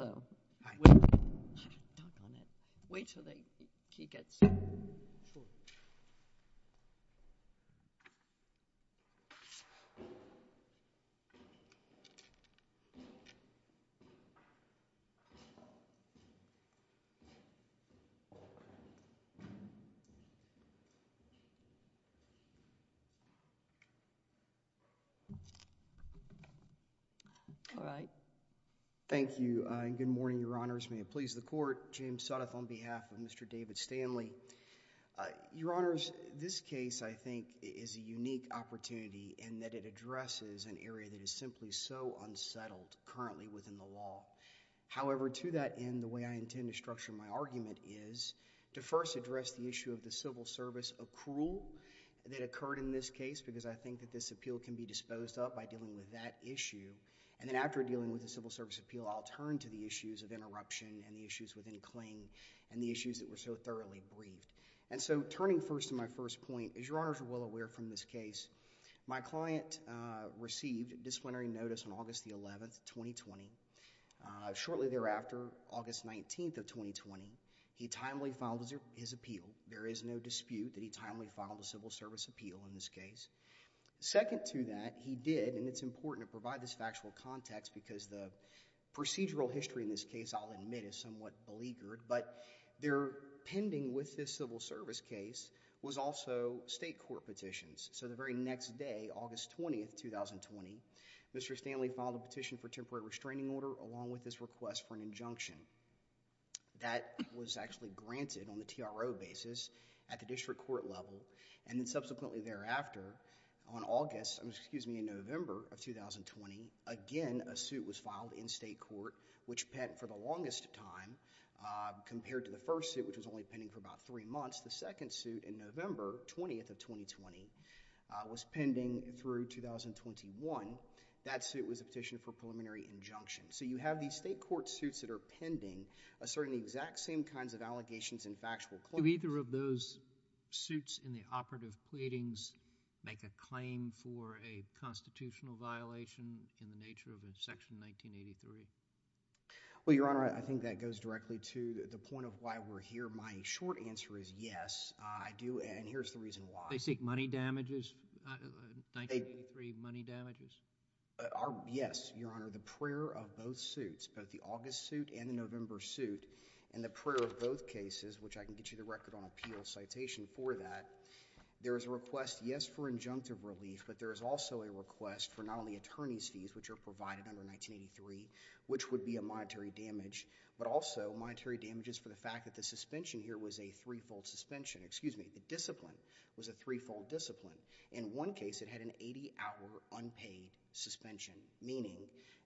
All right. Thank you. Good morning, Your Honors. May it please the Court. James Suddoth on behalf of Mr. David Stanley. Your Honors, this case, I think, is a unique opportunity in that it addresses an area that is simply so unsettled currently within the law. However, to that end, the way I intend to structure my argument is to first address the issue of the civil service accrual that occurred in this case, because I think that this appeal can be disposed of by dealing with that issue, and then after dealing with the civil service appeal, I'll turn to the issues of interruption and the issues within claim and the issues that were so thoroughly briefed. And so, turning first to my first point, as Your Honors are well aware from this case, my client received disciplinary notice on August the 11th, 2020. Shortly thereafter, August 19th of 2020, he timely filed his appeal. There is no dispute that he timely filed a civil service appeal in this case. Second to that, he did, and it's important to provide this factual context because the procedural history in this case, I'll admit, is somewhat beleaguered, but there pending with this civil service case was also state court petitions. So the very next day, August 20th, 2020, Mr. Stanley filed a petition for temporary restraining order along with this request for an injunction. That was actually granted on the TRO basis at the district court level, and then subsequently thereafter on August, excuse me, in November of 2020, again, a suit was filed in state court which pent for the longest time compared to the first suit which was only pending for about three months. The second suit in November 20th of 2020 was pending through 2021. That suit was a petition for preliminary injunction. So you have these state court suits that are pending asserting the exact same kinds of allegations and factual claims. Do either of those suits in the operative pleadings make a claim for a constitutional violation in the nature of Section 1983? Well, Your Honor, I think that goes directly to the point of why we're here. My short answer is yes, I do, and here's the reason why. They seek money damages, 1983 money damages? Yes, Your Honor, the prayer of both suits, both the August suit and the November suit, and the prayer of both cases, which I can get you the record on appeal citation for that. There is a request, yes, for injunctive relief, but there is also a request for not only attorney's fees which are provided under 1983, which would be a monetary damage, but also monetary damages for the fact that the suspension here was a three-fold suspension, excuse me, the discipline was a three-fold discipline. In one case, it had an 80-hour unpaid suspension, meaning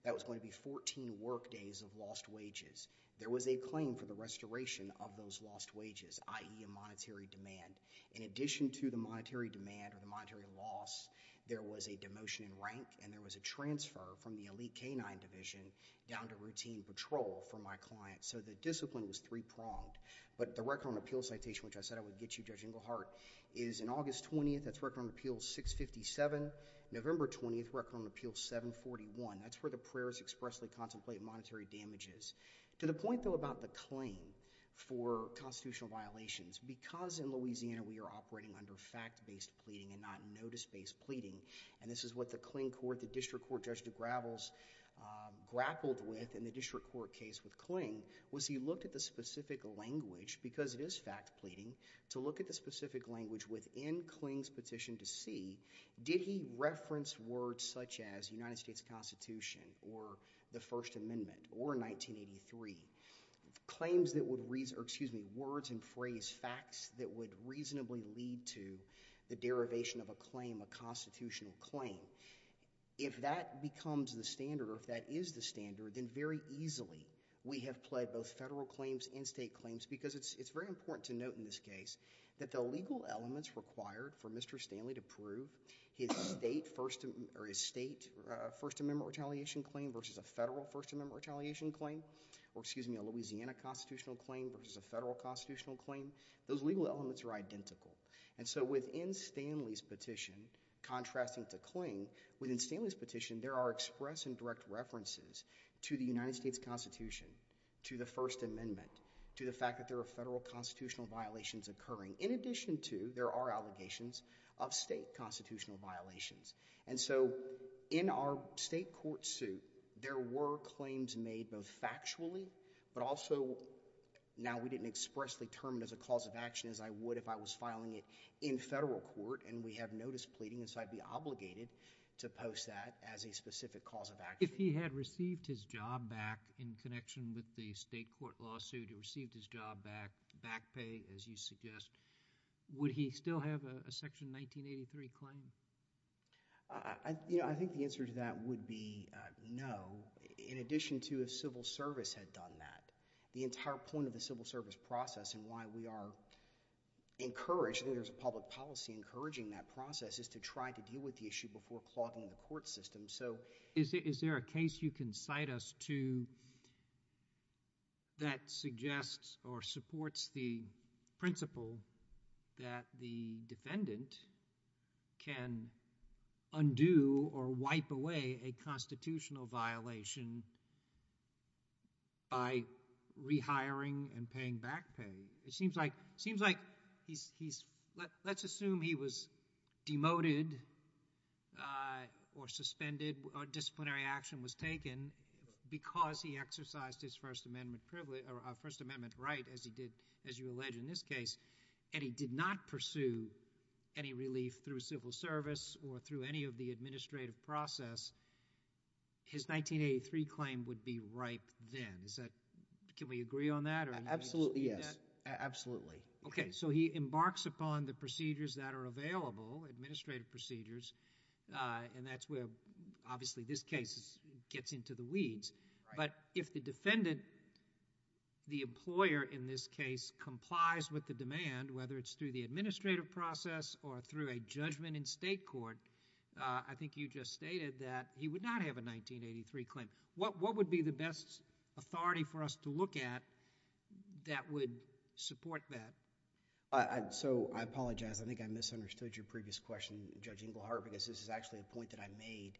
that was going to be 14 workdays of lost wages. There was a claim for the restoration of those lost wages, i.e., a monetary demand. In addition to the monetary demand or the monetary loss, there was a demotion in rank and there was a transfer from the elite K-9 division down to routine patrol for my client, so the discipline was three-pronged. But the record on appeal citation, which I said I would get you, Judge Inglehart, is in August 20th, that's record on appeal 657, November 20th, record on appeal 741. That's where the prayers expressly contemplate monetary damages. To the point, though, about the claim for constitutional violations, because in Louisiana we are operating under fact-based pleading and not notice-based pleading, and this is what the Kling Court, the district court Judge DeGravels grappled with in the district court case with Kling, was he looked at the specific language, because it is fact pleading, to look at the specific language within Kling's petition to see, did he reference words such as United States Constitution or the First Amendment or 1983, claims that would, excuse me, words and phrase facts that would reasonably lead to the derivation of a claim, a constitutional claim. So, if that becomes the standard or if that is the standard, then very easily we have pled both federal claims and state claims, because it's very important to note in this case that the legal elements required for Mr. Stanley to prove his state First Amendment retaliation claim versus a federal First Amendment retaliation claim or, excuse me, a Louisiana constitutional claim versus a federal constitutional claim, those legal elements are identical. And so, within Stanley's petition, contrasting to Kling, within Stanley's petition there are express and direct references to the United States Constitution, to the First Amendment, to the fact that there are federal constitutional violations occurring. In addition to, there are allegations of state constitutional violations. And so, in our state court suit, there were claims made both factually, but also, now we didn't expressly term it as a cause of action as I would if I was filing it in federal court. And we have notice pleading, and so I'd be obligated to post that as a specific cause of action. If he had received his job back in connection with the state court lawsuit, he received his job back, back pay as you suggest, would he still have a Section 1983 claim? You know, I think the answer to that would be no. In addition to if civil service had done that, the entire point of the civil service process and why we are encouraged, there's a public policy encouraging that process is to try to deal with the issue before clogging the court system. So... Is there a case you can cite us to that suggests or supports the principle that the defendant can undo or wipe away a constitutional violation by rehiring and paying back pay? It seems like, it seems like he's, he's, let's assume he was demoted or suspended or disciplinary action was taken because he exercised his First Amendment privilege or First Amendment right as he did, as you allege in this case, and he did not pursue any relief through civil service or through any of the administrative process, his 1983 claim would be ripe then. Is that, can we agree on that or... Absolutely, yes. Absolutely. Okay. So he embarks upon the procedures that are available, administrative procedures, and that's where obviously this case gets into the weeds. Right. But if the defendant, the employer in this case complies with the demand, whether it's through the administrative process or through a judgment in state court, I think you just stated that he would not have a 1983 claim. What would be the best authority for us to look at that would support that? So I apologize, I think I misunderstood your previous question, Judge Inglehart, because this is actually a point that I made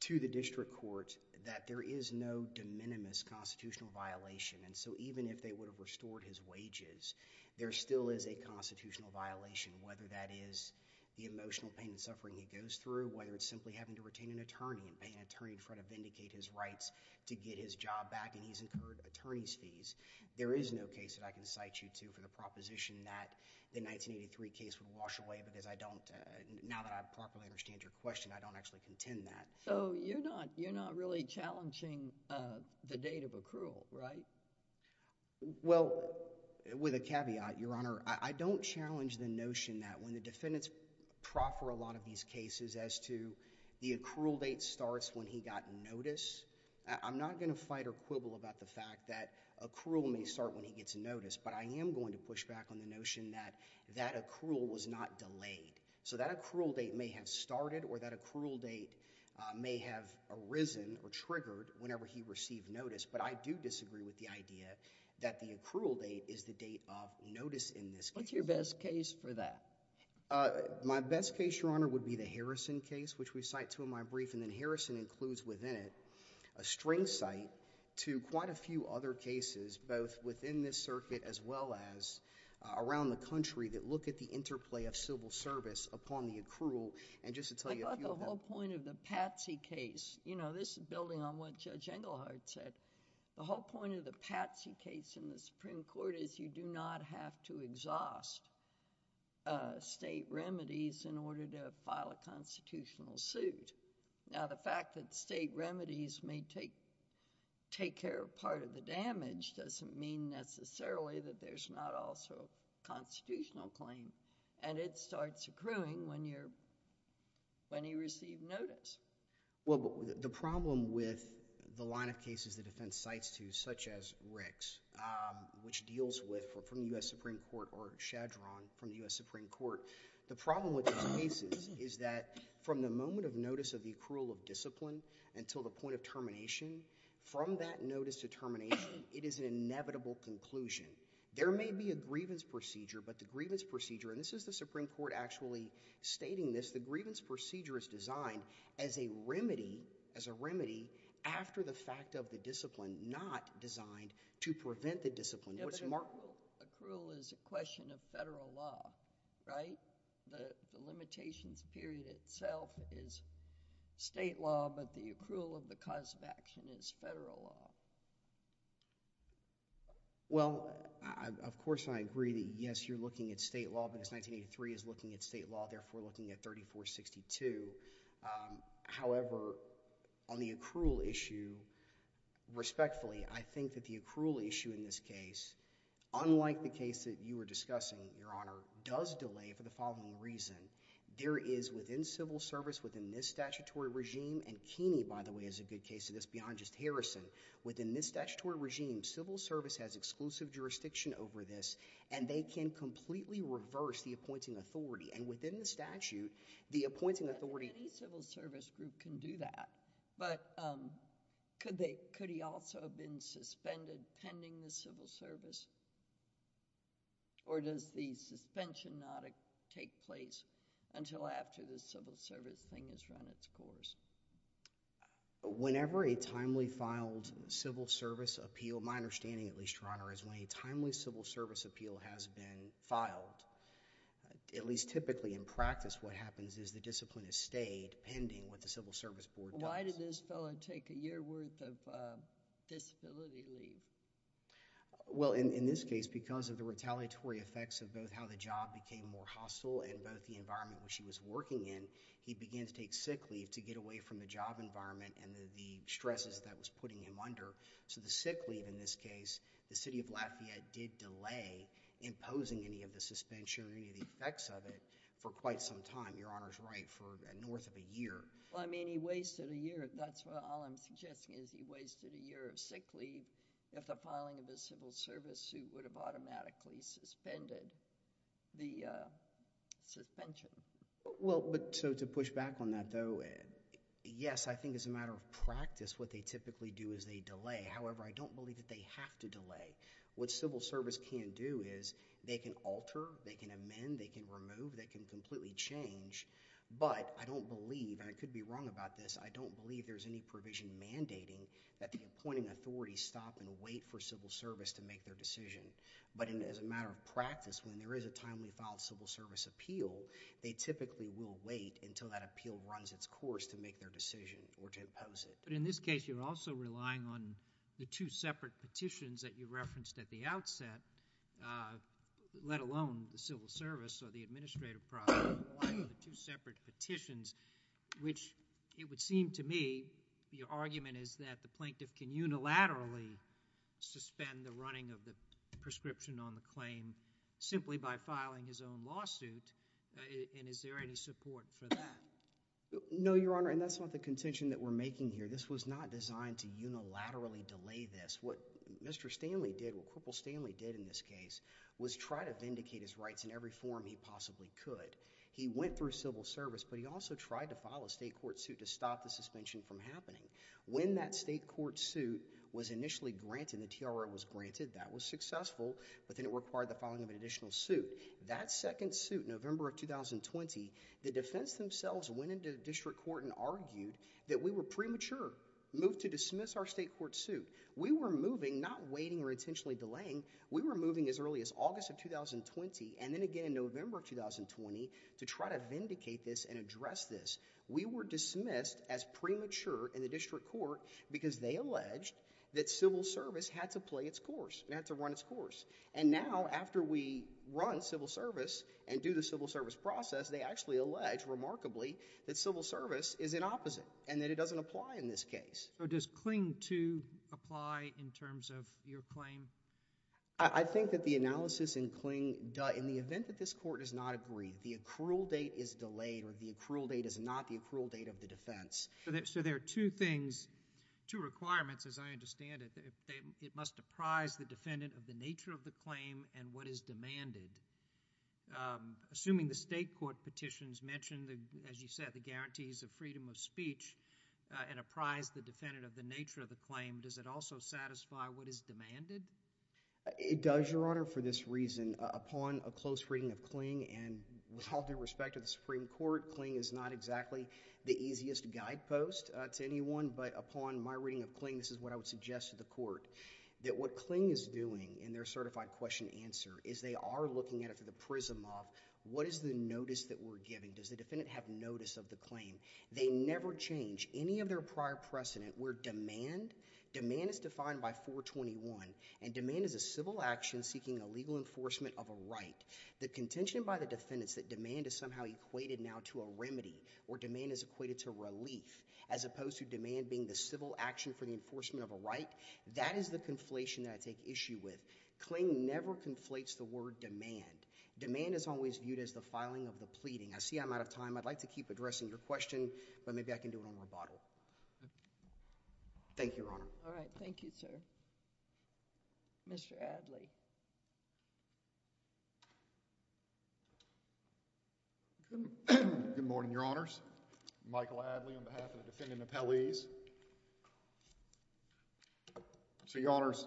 to the district court that there is no de minimis constitutional violation and so even if they would have restored his wages, there still is a constitutional violation, whether that is the emotional pain and suffering he goes through, whether it's simply having to retain an attorney and pay an attorney in front of vindicate his rights to get his job back and he's incurred attorney's fees. There is no case that I can cite you to for the proposition that the 1983 case would wash I don't properly understand your question, I don't actually contend that. So you're not really challenging the date of accrual, right? Well, with a caveat, Your Honor, I don't challenge the notion that when the defendants proffer a lot of these cases as to the accrual date starts when he got notice, I'm not going to fight or quibble about the fact that accrual may start when he gets notice, but I am going to push back on the notion that that accrual was not delayed. So that accrual date may have started or that accrual date may have arisen or triggered whenever he received notice, but I do disagree with the idea that the accrual date is the date of notice in this case. What's your best case for that? My best case, Your Honor, would be the Harrison case, which we cite to in my brief and then Harrison includes within it a string cite to quite a few other cases both within this circuit as well as around the country that look at the interplay of civil service upon the accrual and just to tell you a few of them... I thought the whole point of the Patsey case, you know, this is building on what Judge Englehard said, the whole point of the Patsey case in the Supreme Court is you do not have to exhaust state remedies in order to file a constitutional suit. Now, the fact that state remedies may take care of part of the damage doesn't mean necessarily that there's not also a constitutional claim and it starts accruing when you're, when you receive notice. Well, the problem with the line of cases the defense cites to such as Rick's, which deals with from the U.S. Supreme Court or Shadron from the U.S. Supreme Court, the problem with those cases is that from the moment of notice of the accrual of discipline until the point of termination, from that notice to termination, it is an inevitable conclusion. There may be a grievance procedure, but the grievance procedure, and this is the Supreme Court actually stating this, the grievance procedure is designed as a remedy, as a remedy after the fact of the discipline, not designed to prevent the discipline. What's Mark... Accrual is a question of federal law, right? The limitations period itself is state law, but the accrual of the cause of action is federal law. Well, of course, I agree that, yes, you're looking at state law because 1983 is looking at state law, therefore looking at 3462. However, on the accrual issue, respectfully, I think that the accrual issue in this case, unlike the case that you were discussing, Your Honor, does delay for the following reason. There is within civil service, within this statutory regime, and Keeney, by the way, is a good case of this beyond just Harrison. Within this statutory regime, civil service has exclusive jurisdiction over this, and they can completely reverse the appointing authority, and within the statute, the appointing authority... Any civil service group can do that, but could they... could he also have been suspended pending the civil service, or does the suspension not take place until after the civil service thing has run its course? Whenever a timely filed civil service appeal, my understanding, at least, Your Honor, is when a timely civil service appeal has been filed, at least typically in practice, what happens is the discipline is stayed pending what the civil service board does. Why did this fellow take a year worth of disability leave? Well, in this case, because of the retaliatory effects of both how the job became more hostile and both the environment in which he was working in, he began to take sick leave to get away from the job environment and the stresses that was putting him under. So the sick leave in this case, the City of Lafayette did delay imposing any of the suspension or any of the effects of it for quite some time, Your Honor's right, for north of a year. Well, I mean, he wasted a year. That's all I'm suggesting is he wasted a year of sick leave if the filing of the civil service suit would have automatically suspended the suspension. Well, but so to push back on that though, yes, I think as a matter of practice what they typically do is they delay. However, I don't believe that they have to delay. What civil service can do is they can alter, they can amend, they can remove, they can completely change, but I don't believe, and I could be wrong about this, I don't believe there's any provision mandating that the appointing authorities stop and wait for civil service to make their decision. But as a matter of practice, when there is a timely filed civil service appeal, they typically will wait until that appeal runs its course to make their decision or to impose it. But in this case, you're also relying on the two separate petitions that you referenced at the outset, let alone the civil service or the administrative process, you're relying on the two separate petitions, which it would seem to me the argument is that the plaintiff can unilaterally suspend the running of the prescription on the claim simply by filing his own lawsuit, and is there any support for that? No, Your Honor, and that's not the contention that we're making here. This was not designed to unilaterally delay this. What Mr. Stanley did, what Corporal Stanley did in this case, was try to vindicate his rights in every form he possibly could. He went through civil service, but he also tried to file a state court suit to stop the suspension from happening. When that state court suit was initially granted, the TRO was granted, that was successful, but then it required the filing of an additional suit. That second suit, November of 2020, the defense themselves went into district court and argued that we were premature, moved to dismiss our state court suit. We were moving, not waiting or intentionally delaying, we were moving as early as August of 2020 and then again in November of 2020 to try to vindicate this and address this. We were dismissed as premature in the district court because they alleged that civil service had to play its course, it had to run its course, and now after we run civil service and do the civil service process, they actually allege remarkably that civil service is in opposite and that it doesn't apply in this case. So does Kling 2 apply in terms of your claim? I think that the analysis in Kling, in the event that this court does not agree, the accrual date is delayed or the accrual date is not the accrual date of the defense. So there are two things, two requirements as I understand it. It must apprise the defendant of the nature of the claim and what is demanded. Assuming the state court petitions mention, as you said, the guarantees of freedom of speech and apprise the defendant of the nature of the claim, does it also satisfy what is demanded? It does, Your Honor, for this reason. Upon a close reading of Kling and with all due respect to the Supreme Court, Kling is not exactly the easiest guidepost to anyone, but upon my reading of Kling, this is what I would suggest to the court, that what Kling is doing in their certified question and answer is they are looking at it through the prism of what is the notice that we're giving. Does the defendant have notice of the claim? They never change any of their prior precedent where demand, demand is defined by 421 and demand is a civil action seeking a legal enforcement of a right. The contention by the defendants that demand is somehow equated now to a remedy or demand is equated to relief as opposed to demand being the civil action for the enforcement of a right, that is the conflation that I take issue with. Kling never conflates the word demand. Demand is always viewed as the filing of the pleading. I see I'm out of time. I'd like to keep addressing your question, but maybe I can do it on rebuttal. Thank you, Your Honor. All right. Thank you, sir. Mr. Adly. Good morning, Your Honors. Michael Adly on behalf of the defendant and the appellees. So, Your Honors,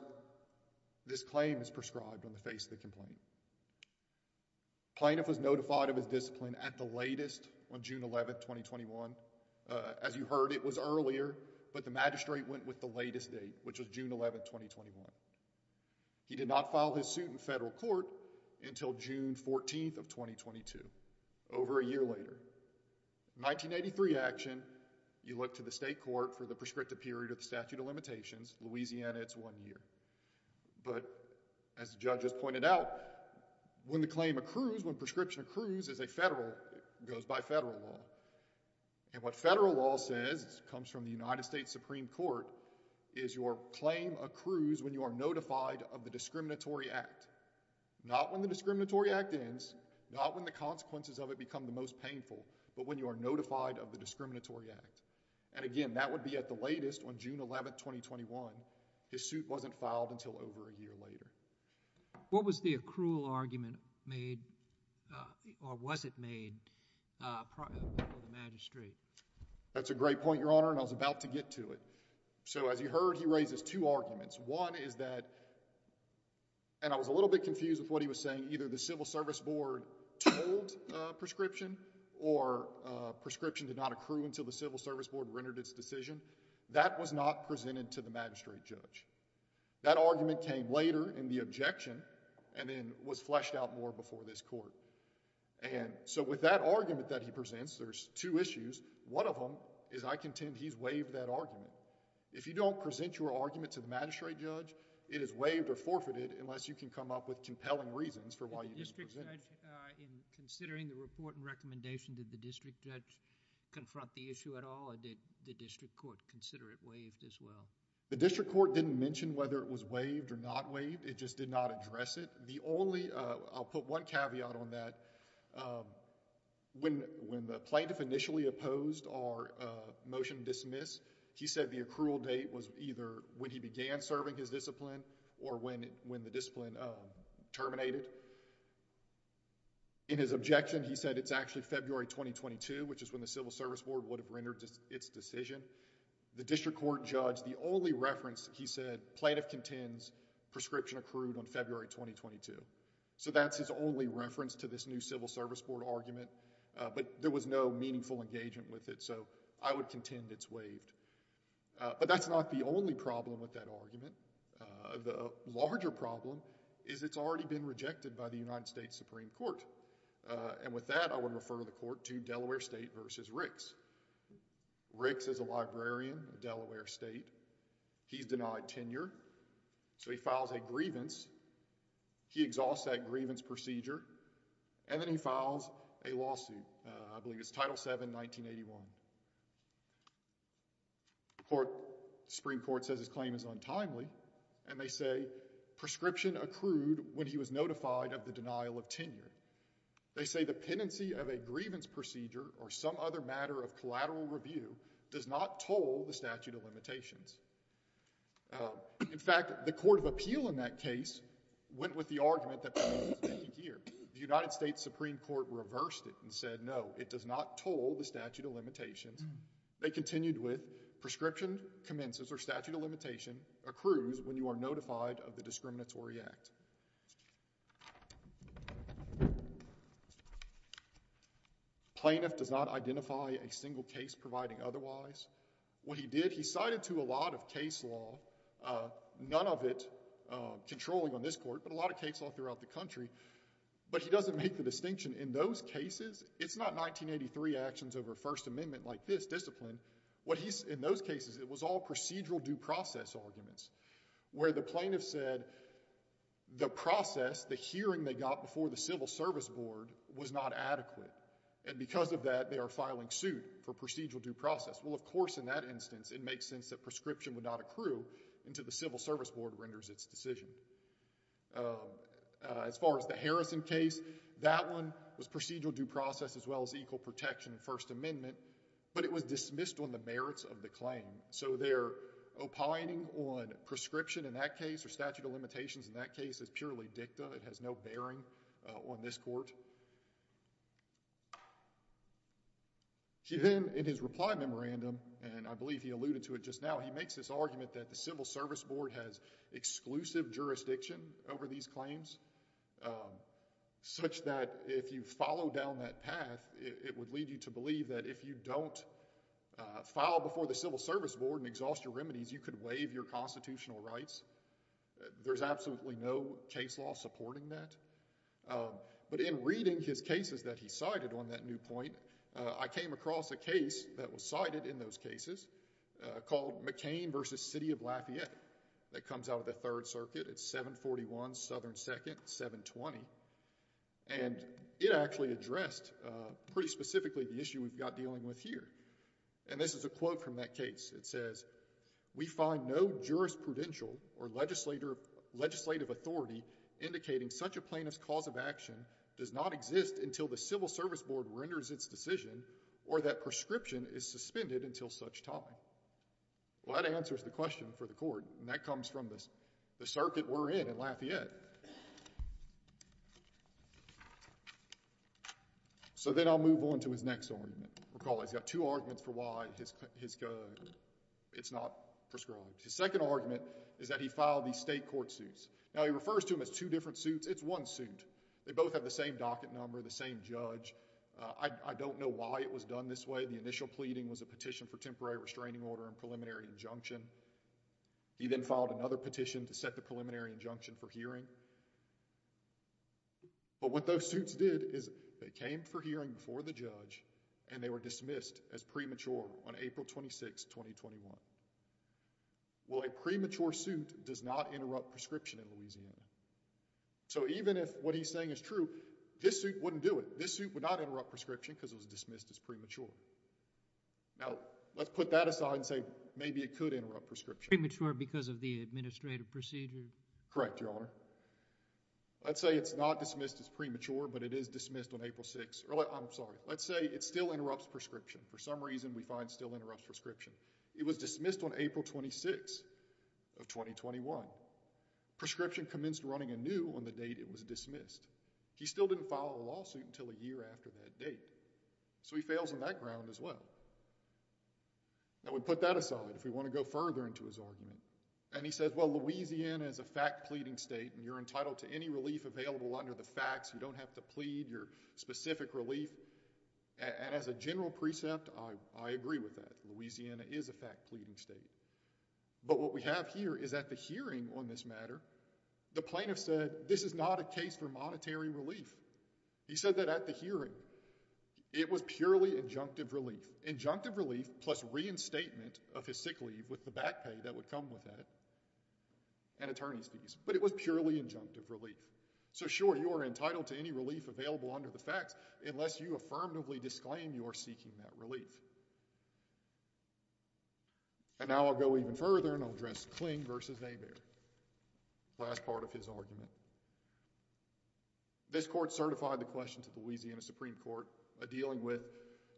this claim is prescribed on the face of the complaint. Plaintiff was notified of his discipline at the latest on June 11th, 2021. As you heard, it was earlier, but the magistrate went with the latest date, which was June 11th, 2021. He did not file his suit in federal court until June 14th of 2022, over a year later. In 1983 action, you look to the state court for the prescriptive period of the statute of limitations. Louisiana, it's one year. But, as the judge has pointed out, when the claim accrues, when prescription accrues as a federal, it goes by federal law. And what federal law says, comes from the United States Supreme Court, is your claim accrues when you are notified of the discriminatory act. Not when the discriminatory act ends, not when the consequences of it become the most painful, but when you are notified of the discriminatory act. And again, that would be at the latest on June 11th, 2021. His suit wasn't filed until over a year later. What was the accrual argument made, or was it made, before the magistrate? That's a great point, your honor, and I was about to get to it. So as you heard, he raises two arguments. One is that, and I was a little bit confused with what he was saying, either the civil service board told prescription, or prescription did not accrue until the civil service board rendered its decision. That was not presented to the magistrate judge. That argument came later in the objection, and then was fleshed out more before this court. And so, with that argument that he presents, there's two issues. One of them is I contend he's waived that argument. If you don't present your argument to the magistrate judge, it is waived or forfeited unless you can come up with compelling reasons for why you didn't present it. In considering the report and recommendation, did the district judge confront the issue at all, or did the district court consider it waived as well? The district court didn't mention whether it was waived or not waived. It just did not address it. The only... I'll put one caveat on that. When the plaintiff initially opposed our motion to dismiss, he said the accrual date was either when he began serving his discipline or when the discipline terminated. In his objection, he said it's actually February 2022, which is when the civil service board would have rendered its decision. The district court judged the only reference he said plaintiff contends prescription accrued on February 2022. So that's his only reference to this new civil service board argument, but there was no meaningful engagement with it. So, I would contend it's waived. But that's not the only problem with that argument. The larger problem is it's already been rejected by the United States Supreme Court. And with that, I would refer the court to Delaware State versus Ricks. Ricks is a librarian at Delaware State. He's denied tenure, so he files a grievance. He exhausts that grievance procedure, and then he files a lawsuit. I believe it's Title VII, 1981. The Supreme Court says his claim is untimely, and they say, prescription accrued when he was notified of the denial of tenure. They say the pendency of a grievance procedure or some other matter of collateral review does not toll the statute of limitations. In fact, the court of appeal in that case went with the argument that the grievance is pending here. The United States Supreme Court reversed it and said, no, it does not toll the statute of limitations. They continued with, prescription commences or statute of limitation accrues when you are notified of the discriminatory act. Plaintiff does not identify a single case providing otherwise. What he did, he cited to a lot of case law, none of it controlling on this court, but a lot of case law throughout the country, but he doesn't make the distinction in those cases. It's not 1983 actions over First Amendment like this discipline. In those cases, it was all procedural due process arguments, where the plaintiff said the process, the hearing they got before the Civil Service Board was not adequate. Because of that, they are filing suit for procedural due process. Well, of course, in that instance, it makes sense that prescription would not accrue until the Civil Service Board renders its decision. As far as the Harrison case, that one was procedural due process as well as equal protection in First Amendment, but it was dismissed on the merits of the claim. So their opining on prescription in that case or statute of limitations in that case is purely dicta. It has no bearing on this court. Then, in his reply memorandum, and I believe he alluded to it just now, he makes this argument that the Civil Service Board has exclusive jurisdiction over these claims, such that if you follow down that path, it would lead you to believe that if you don't file before the Civil Service Board and exhaust your remedies, you could waive your constitutional rights. There's absolutely no case law supporting that, but in reading his cases that he cited on that new point, I came across a case that was cited in those cases called McCain v. Lafayette. That comes out of the Third Circuit, it's 741 Southern 2nd, 720, and it actually addressed pretty specifically the issue we've got dealing with here. And this is a quote from that case, it says, we find no jurisprudential or legislative authority indicating such a plaintiff's cause of action does not exist until the Civil Service Board renders its decision or that prescription is suspended until such time. Well, that answers the question for the court, and that comes from the circuit we're in at Lafayette. So then I'll move on to his next argument. Recall, he's got two arguments for why his, it's not prescribed. His second argument is that he filed these state court suits. Now, he refers to them as two different suits, it's one suit. They both have the same docket number, the same judge. I don't know why it was done this way. He said the initial pleading was a petition for temporary restraining order and preliminary injunction. He then filed another petition to set the preliminary injunction for hearing. But what those suits did is they came for hearing before the judge, and they were dismissed as premature on April 26, 2021. Well, a premature suit does not interrupt prescription in Louisiana. So even if what he's saying is true, this suit wouldn't do it. This suit would not interrupt prescription because it was dismissed as premature. Now, let's put that aside and say maybe it could interrupt prescription. Premature because of the administrative procedure? Correct, Your Honor. Let's say it's not dismissed as premature, but it is dismissed on April 6. I'm sorry. Let's say it still interrupts prescription. For some reason, we find it still interrupts prescription. It was dismissed on April 26 of 2021. Prescription commenced running anew on the date it was dismissed. He still didn't file a lawsuit until a year after that date. So he fails on that ground as well. Now, we put that aside if we want to go further into his argument. And he says, well, Louisiana is a fact pleading state, and you're entitled to any relief available under the facts. You don't have to plead your specific relief. And as a general precept, I agree with that. Louisiana is a fact pleading state. But what we have here is at the hearing on this matter, the plaintiff said, this is not a case for monetary relief. He said that at the hearing, it was purely injunctive relief. Injunctive relief plus reinstatement of his sick leave with the back pay that would come with that and attorney's fees. But it was purely injunctive relief. So sure, you are entitled to any relief available under the facts, unless you affirmatively disclaim you are seeking that relief. And now I'll go even further, and I'll address Kling versus Hebert, the last part of his argument. This court certified the question to the Louisiana Supreme Court dealing with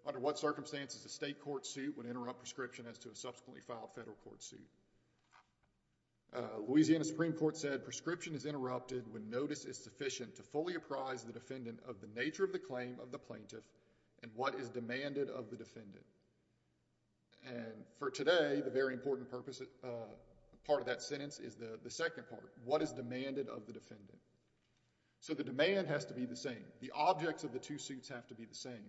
under what circumstances a state court suit would interrupt prescription as to a subsequently filed federal court suit. Louisiana Supreme Court said, prescription is interrupted when notice is sufficient to fully apprise the defendant of the nature of the claim of the plaintiff and what is demanded of the defendant. And for today, the very important part of that sentence is the second part, what is demanded of the defendant. So the demand has to be the same. The objects of the two suits have to be the same.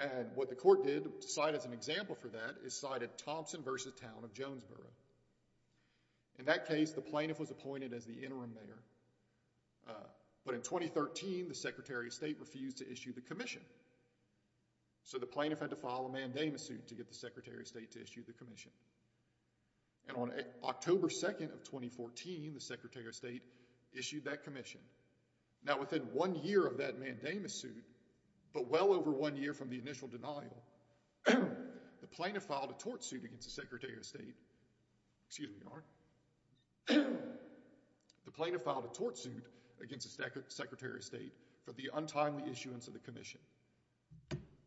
And what the court did to cite as an example for that is cited Thompson versus Town of Jonesboro. In that case, the plaintiff was appointed as the interim mayor. But in 2013, the Secretary of State refused to issue the commission. So the plaintiff had to file a mandamus suit to get the Secretary of State to issue the commission. And on October 2nd of 2014, the Secretary of State issued that commission. Now, within one year of that mandamus suit, but well over one year from the initial denial, the plaintiff filed a tort suit against the Secretary of State. Excuse me, Your Honor. The plaintiff filed a tort suit against the Secretary of State for the untimely issuance of the commission.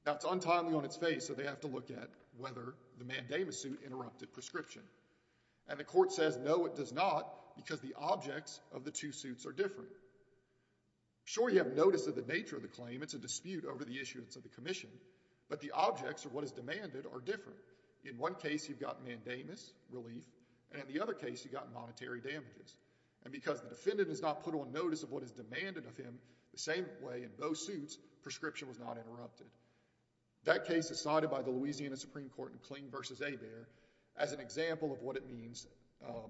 Now, it's untimely on its face, so they have to look at whether the mandamus suit interrupted prescription. And the court says, no, it does not, because the objects of the two suits are different. Sure, you have notice of the nature of the claim. It's a dispute over the issuance of the commission. But the objects, or what is demanded, are different. In one case, you've got mandamus relief. And in the other case, you've got monetary damages. And because the defendant has not put on notice of what is demanded of him the same way in both suits, prescription was not interrupted. That case is cited by the Louisiana Supreme Court in Kling versus Hebert as an example of what it means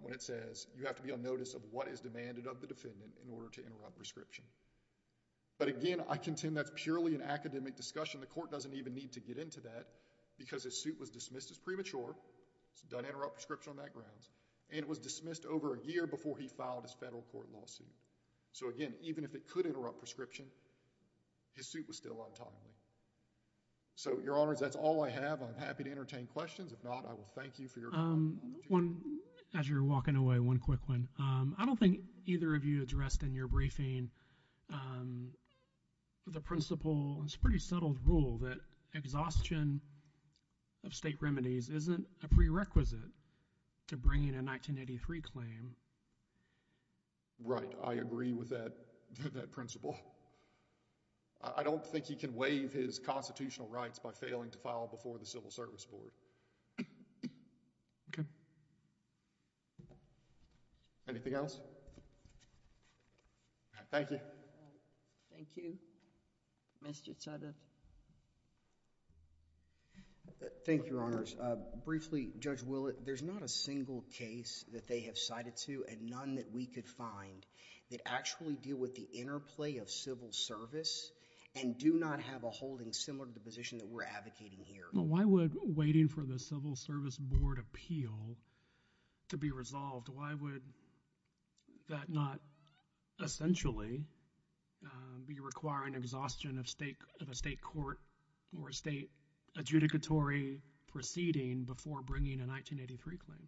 when it says, you have to be on notice of what is demanded of the defendant in order to interrupt prescription. But again, I contend that's purely an academic discussion. The court doesn't even need to get into that, because his suit was dismissed as premature. It doesn't interrupt prescription on that grounds. And it was dismissed over a year before he filed his federal court lawsuit. So again, even if it could interrupt prescription, his suit was still untimely. So your honors, that's all I have. I'm happy to entertain questions. If not, I will thank you for your time. As you're walking away, one quick one. I don't think either of you addressed in your briefing the principle, it's a pretty settled rule, that exhaustion of state remedies isn't a prerequisite to bringing a 1983 claim. Right. I agree with that principle. I don't think he can waive his constitutional rights by failing to file before the Civil Service Board. Anything else? Thank you. Thank you. Mr. Sutter. Thank you, your honors. Briefly, Judge Willett, there's not a single case that they have cited to and none that we could find that actually deal with the interplay of civil service and do not have a holding similar to the position that we're advocating here. Why would waiting for the Civil Service Board appeal to be resolved, why would that not essentially be requiring exhaustion of a state court or a state adjudicatory proceeding before bringing a 1983 claim?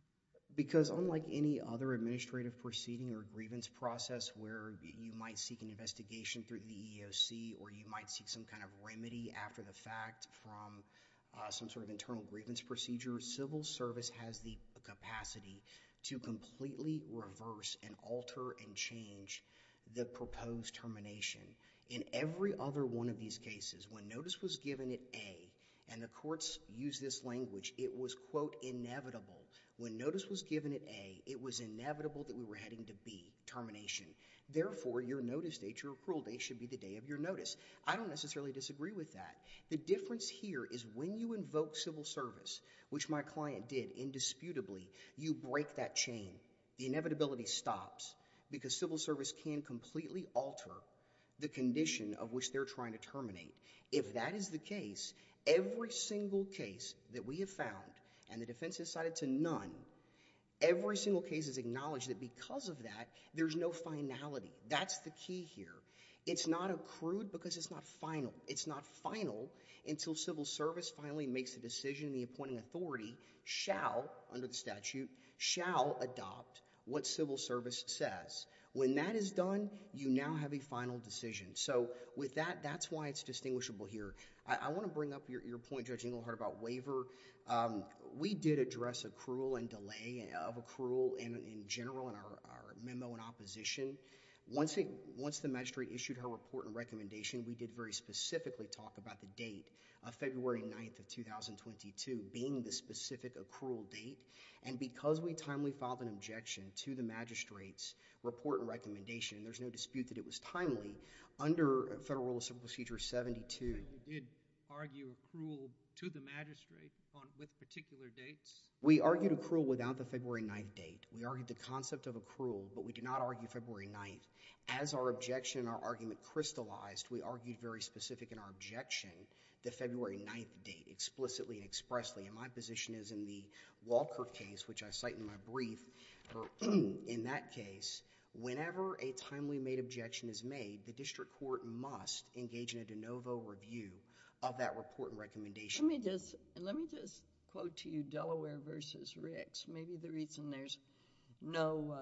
Because unlike any other administrative proceeding or grievance process where you might seek an investigation through the EEOC or you might seek some kind of remedy after the fact from some sort of internal grievance procedure, civil service has the capacity to completely reverse and alter and change the proposed termination. In every other one of these cases, when notice was given at A, and the courts use this language, it was, quote, inevitable. When notice was given at A, it was inevitable that we were heading to B, termination. Therefore, your notice date, your approval date, should be the day of your notice. I don't necessarily disagree with that. The difference here is when you invoke civil service, which my client did indisputably, you break that chain. The inevitability stops because civil service can completely alter the condition of which they're trying to terminate. If that is the case, every single case that we have found, and the defense decided to none, every single case is acknowledged that because of that, there's no finality. That's the key here. It's not accrued because it's not final. It's not final until civil service finally makes a decision. The appointing authority shall, under the statute, shall adopt what civil service says. When that is done, you now have a final decision. So with that, that's why it's distinguishable here. I want to bring up your point, Judge Inglehart, about waiver. We did address accrual and delay of accrual in general in our memo in opposition. Once the magistrate issued her report and recommendation, we did very specifically talk about the date of February 9 of 2022 being the specific accrual date. And because we timely filed an objection to the magistrate's report and recommendation, there's no dispute that it was timely, under Federal Rule of Civil Procedure 72. You did argue accrual to the magistrate with particular dates? We argued accrual without the February 9 date. We argued the concept of accrual, but we did not argue February 9. As our objection and our argument crystallized, we argued very specific in our objection the February 9 date explicitly and expressly. And my position is in the Walker case, which I cite in my brief, in that case, whenever a timely made objection is made, the district court must engage in a de novo review of that report and recommendation. Let me just quote to you Delaware versus Ricks. Maybe the reason there's no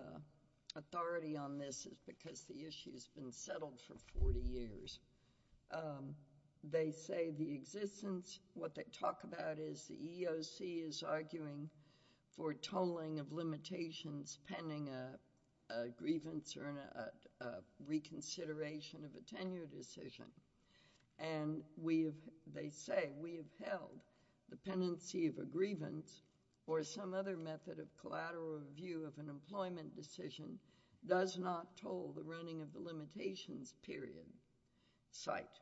authority on this is because the issue's been settled for 40 years. They say the existence, what they talk about is the EEOC is arguing for tolling of limitations pending a grievance or a reconsideration of a tenure decision. And they say, we have held the pendency of a grievance or some other method of collateral review of an employment decision does not toll the running of the limitations period. Cite,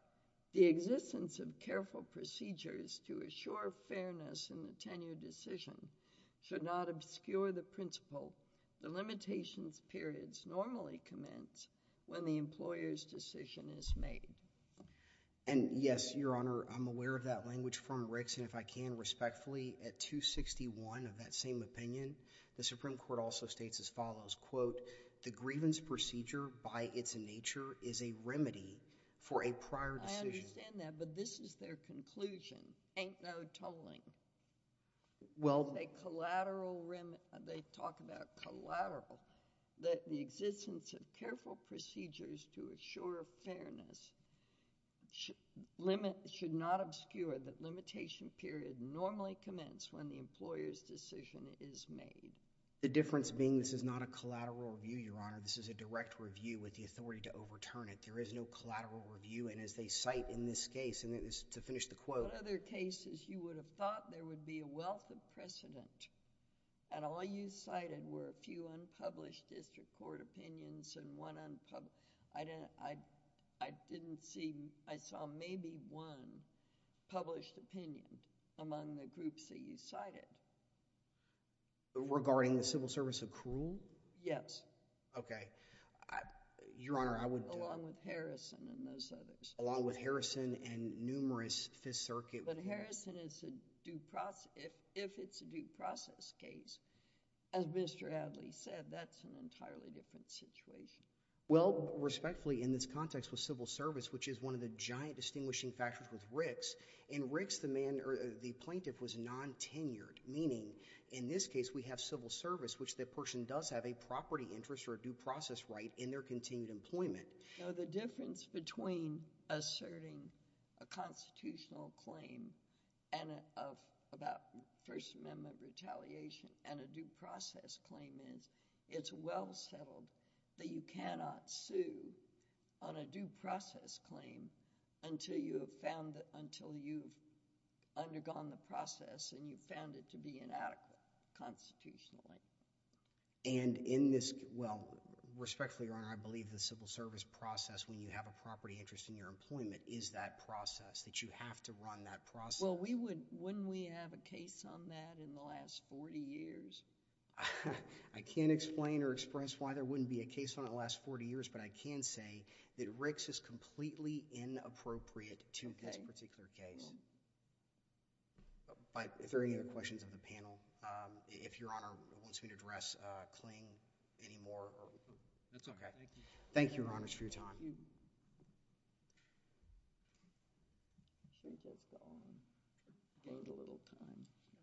the existence of careful procedures to assure fairness in the tenure decision should not obscure the principle the limitations periods normally commence when the employer's decision is made. And yes, your honor, I'm aware of that language from Ricks and if I can respectfully at 261 of that same opinion, the Supreme Court also states as follows, quote, the grievance procedure by its nature is a remedy for a prior decision. I understand that, but this is their conclusion. Ain't no tolling. Well, they collateral, they talk about collateral, that the existence of careful procedures to assure fairness should not obscure the limitation period normally commence when the employer's decision is made. The difference being this is not a collateral review, your honor, this is a direct review with the authority to overturn it. There is no collateral review and as they cite in this case, and it is to finish the quote. What other cases you would have thought there would be a wealth of precedent and all you cited were a few unpublished district court opinions and one unpublished, I didn't see, I saw maybe one published opinion among the groups that you cited. Regarding the civil service accrual? Yes. Okay, your honor, I would. Along with Harrison and those others. But Harrison is a due process, if it's a due process case, as Mr. Adly said, that's an entirely different situation. Well, respectfully, in this context with civil service, which is one of the giant distinguishing factors with Ricks, in Ricks, the plaintiff was non-tenured, meaning in this case, we have civil service, which the person does have a property interest or a due process right in their continued employment. The difference between asserting a constitutional claim and about First Amendment retaliation and a due process claim is it's well settled that you cannot sue on a due process claim until you have found, until you've undergone the process and you've found it to be inadequate constitutionally. And in this, well, respectfully, your honor, I believe the civil service process when you have a property interest in your employment is that process, that you have to run that process. Well, wouldn't we have a case on that in the last 40 years? I can't explain or express why there wouldn't be a case on it in the last 40 years, but I can say that Ricks is completely inappropriate to this particular case. But if there are any other questions of the panel, if your honor wants me to address Kling anymore. That's okay. Thank you, your honors, for your time.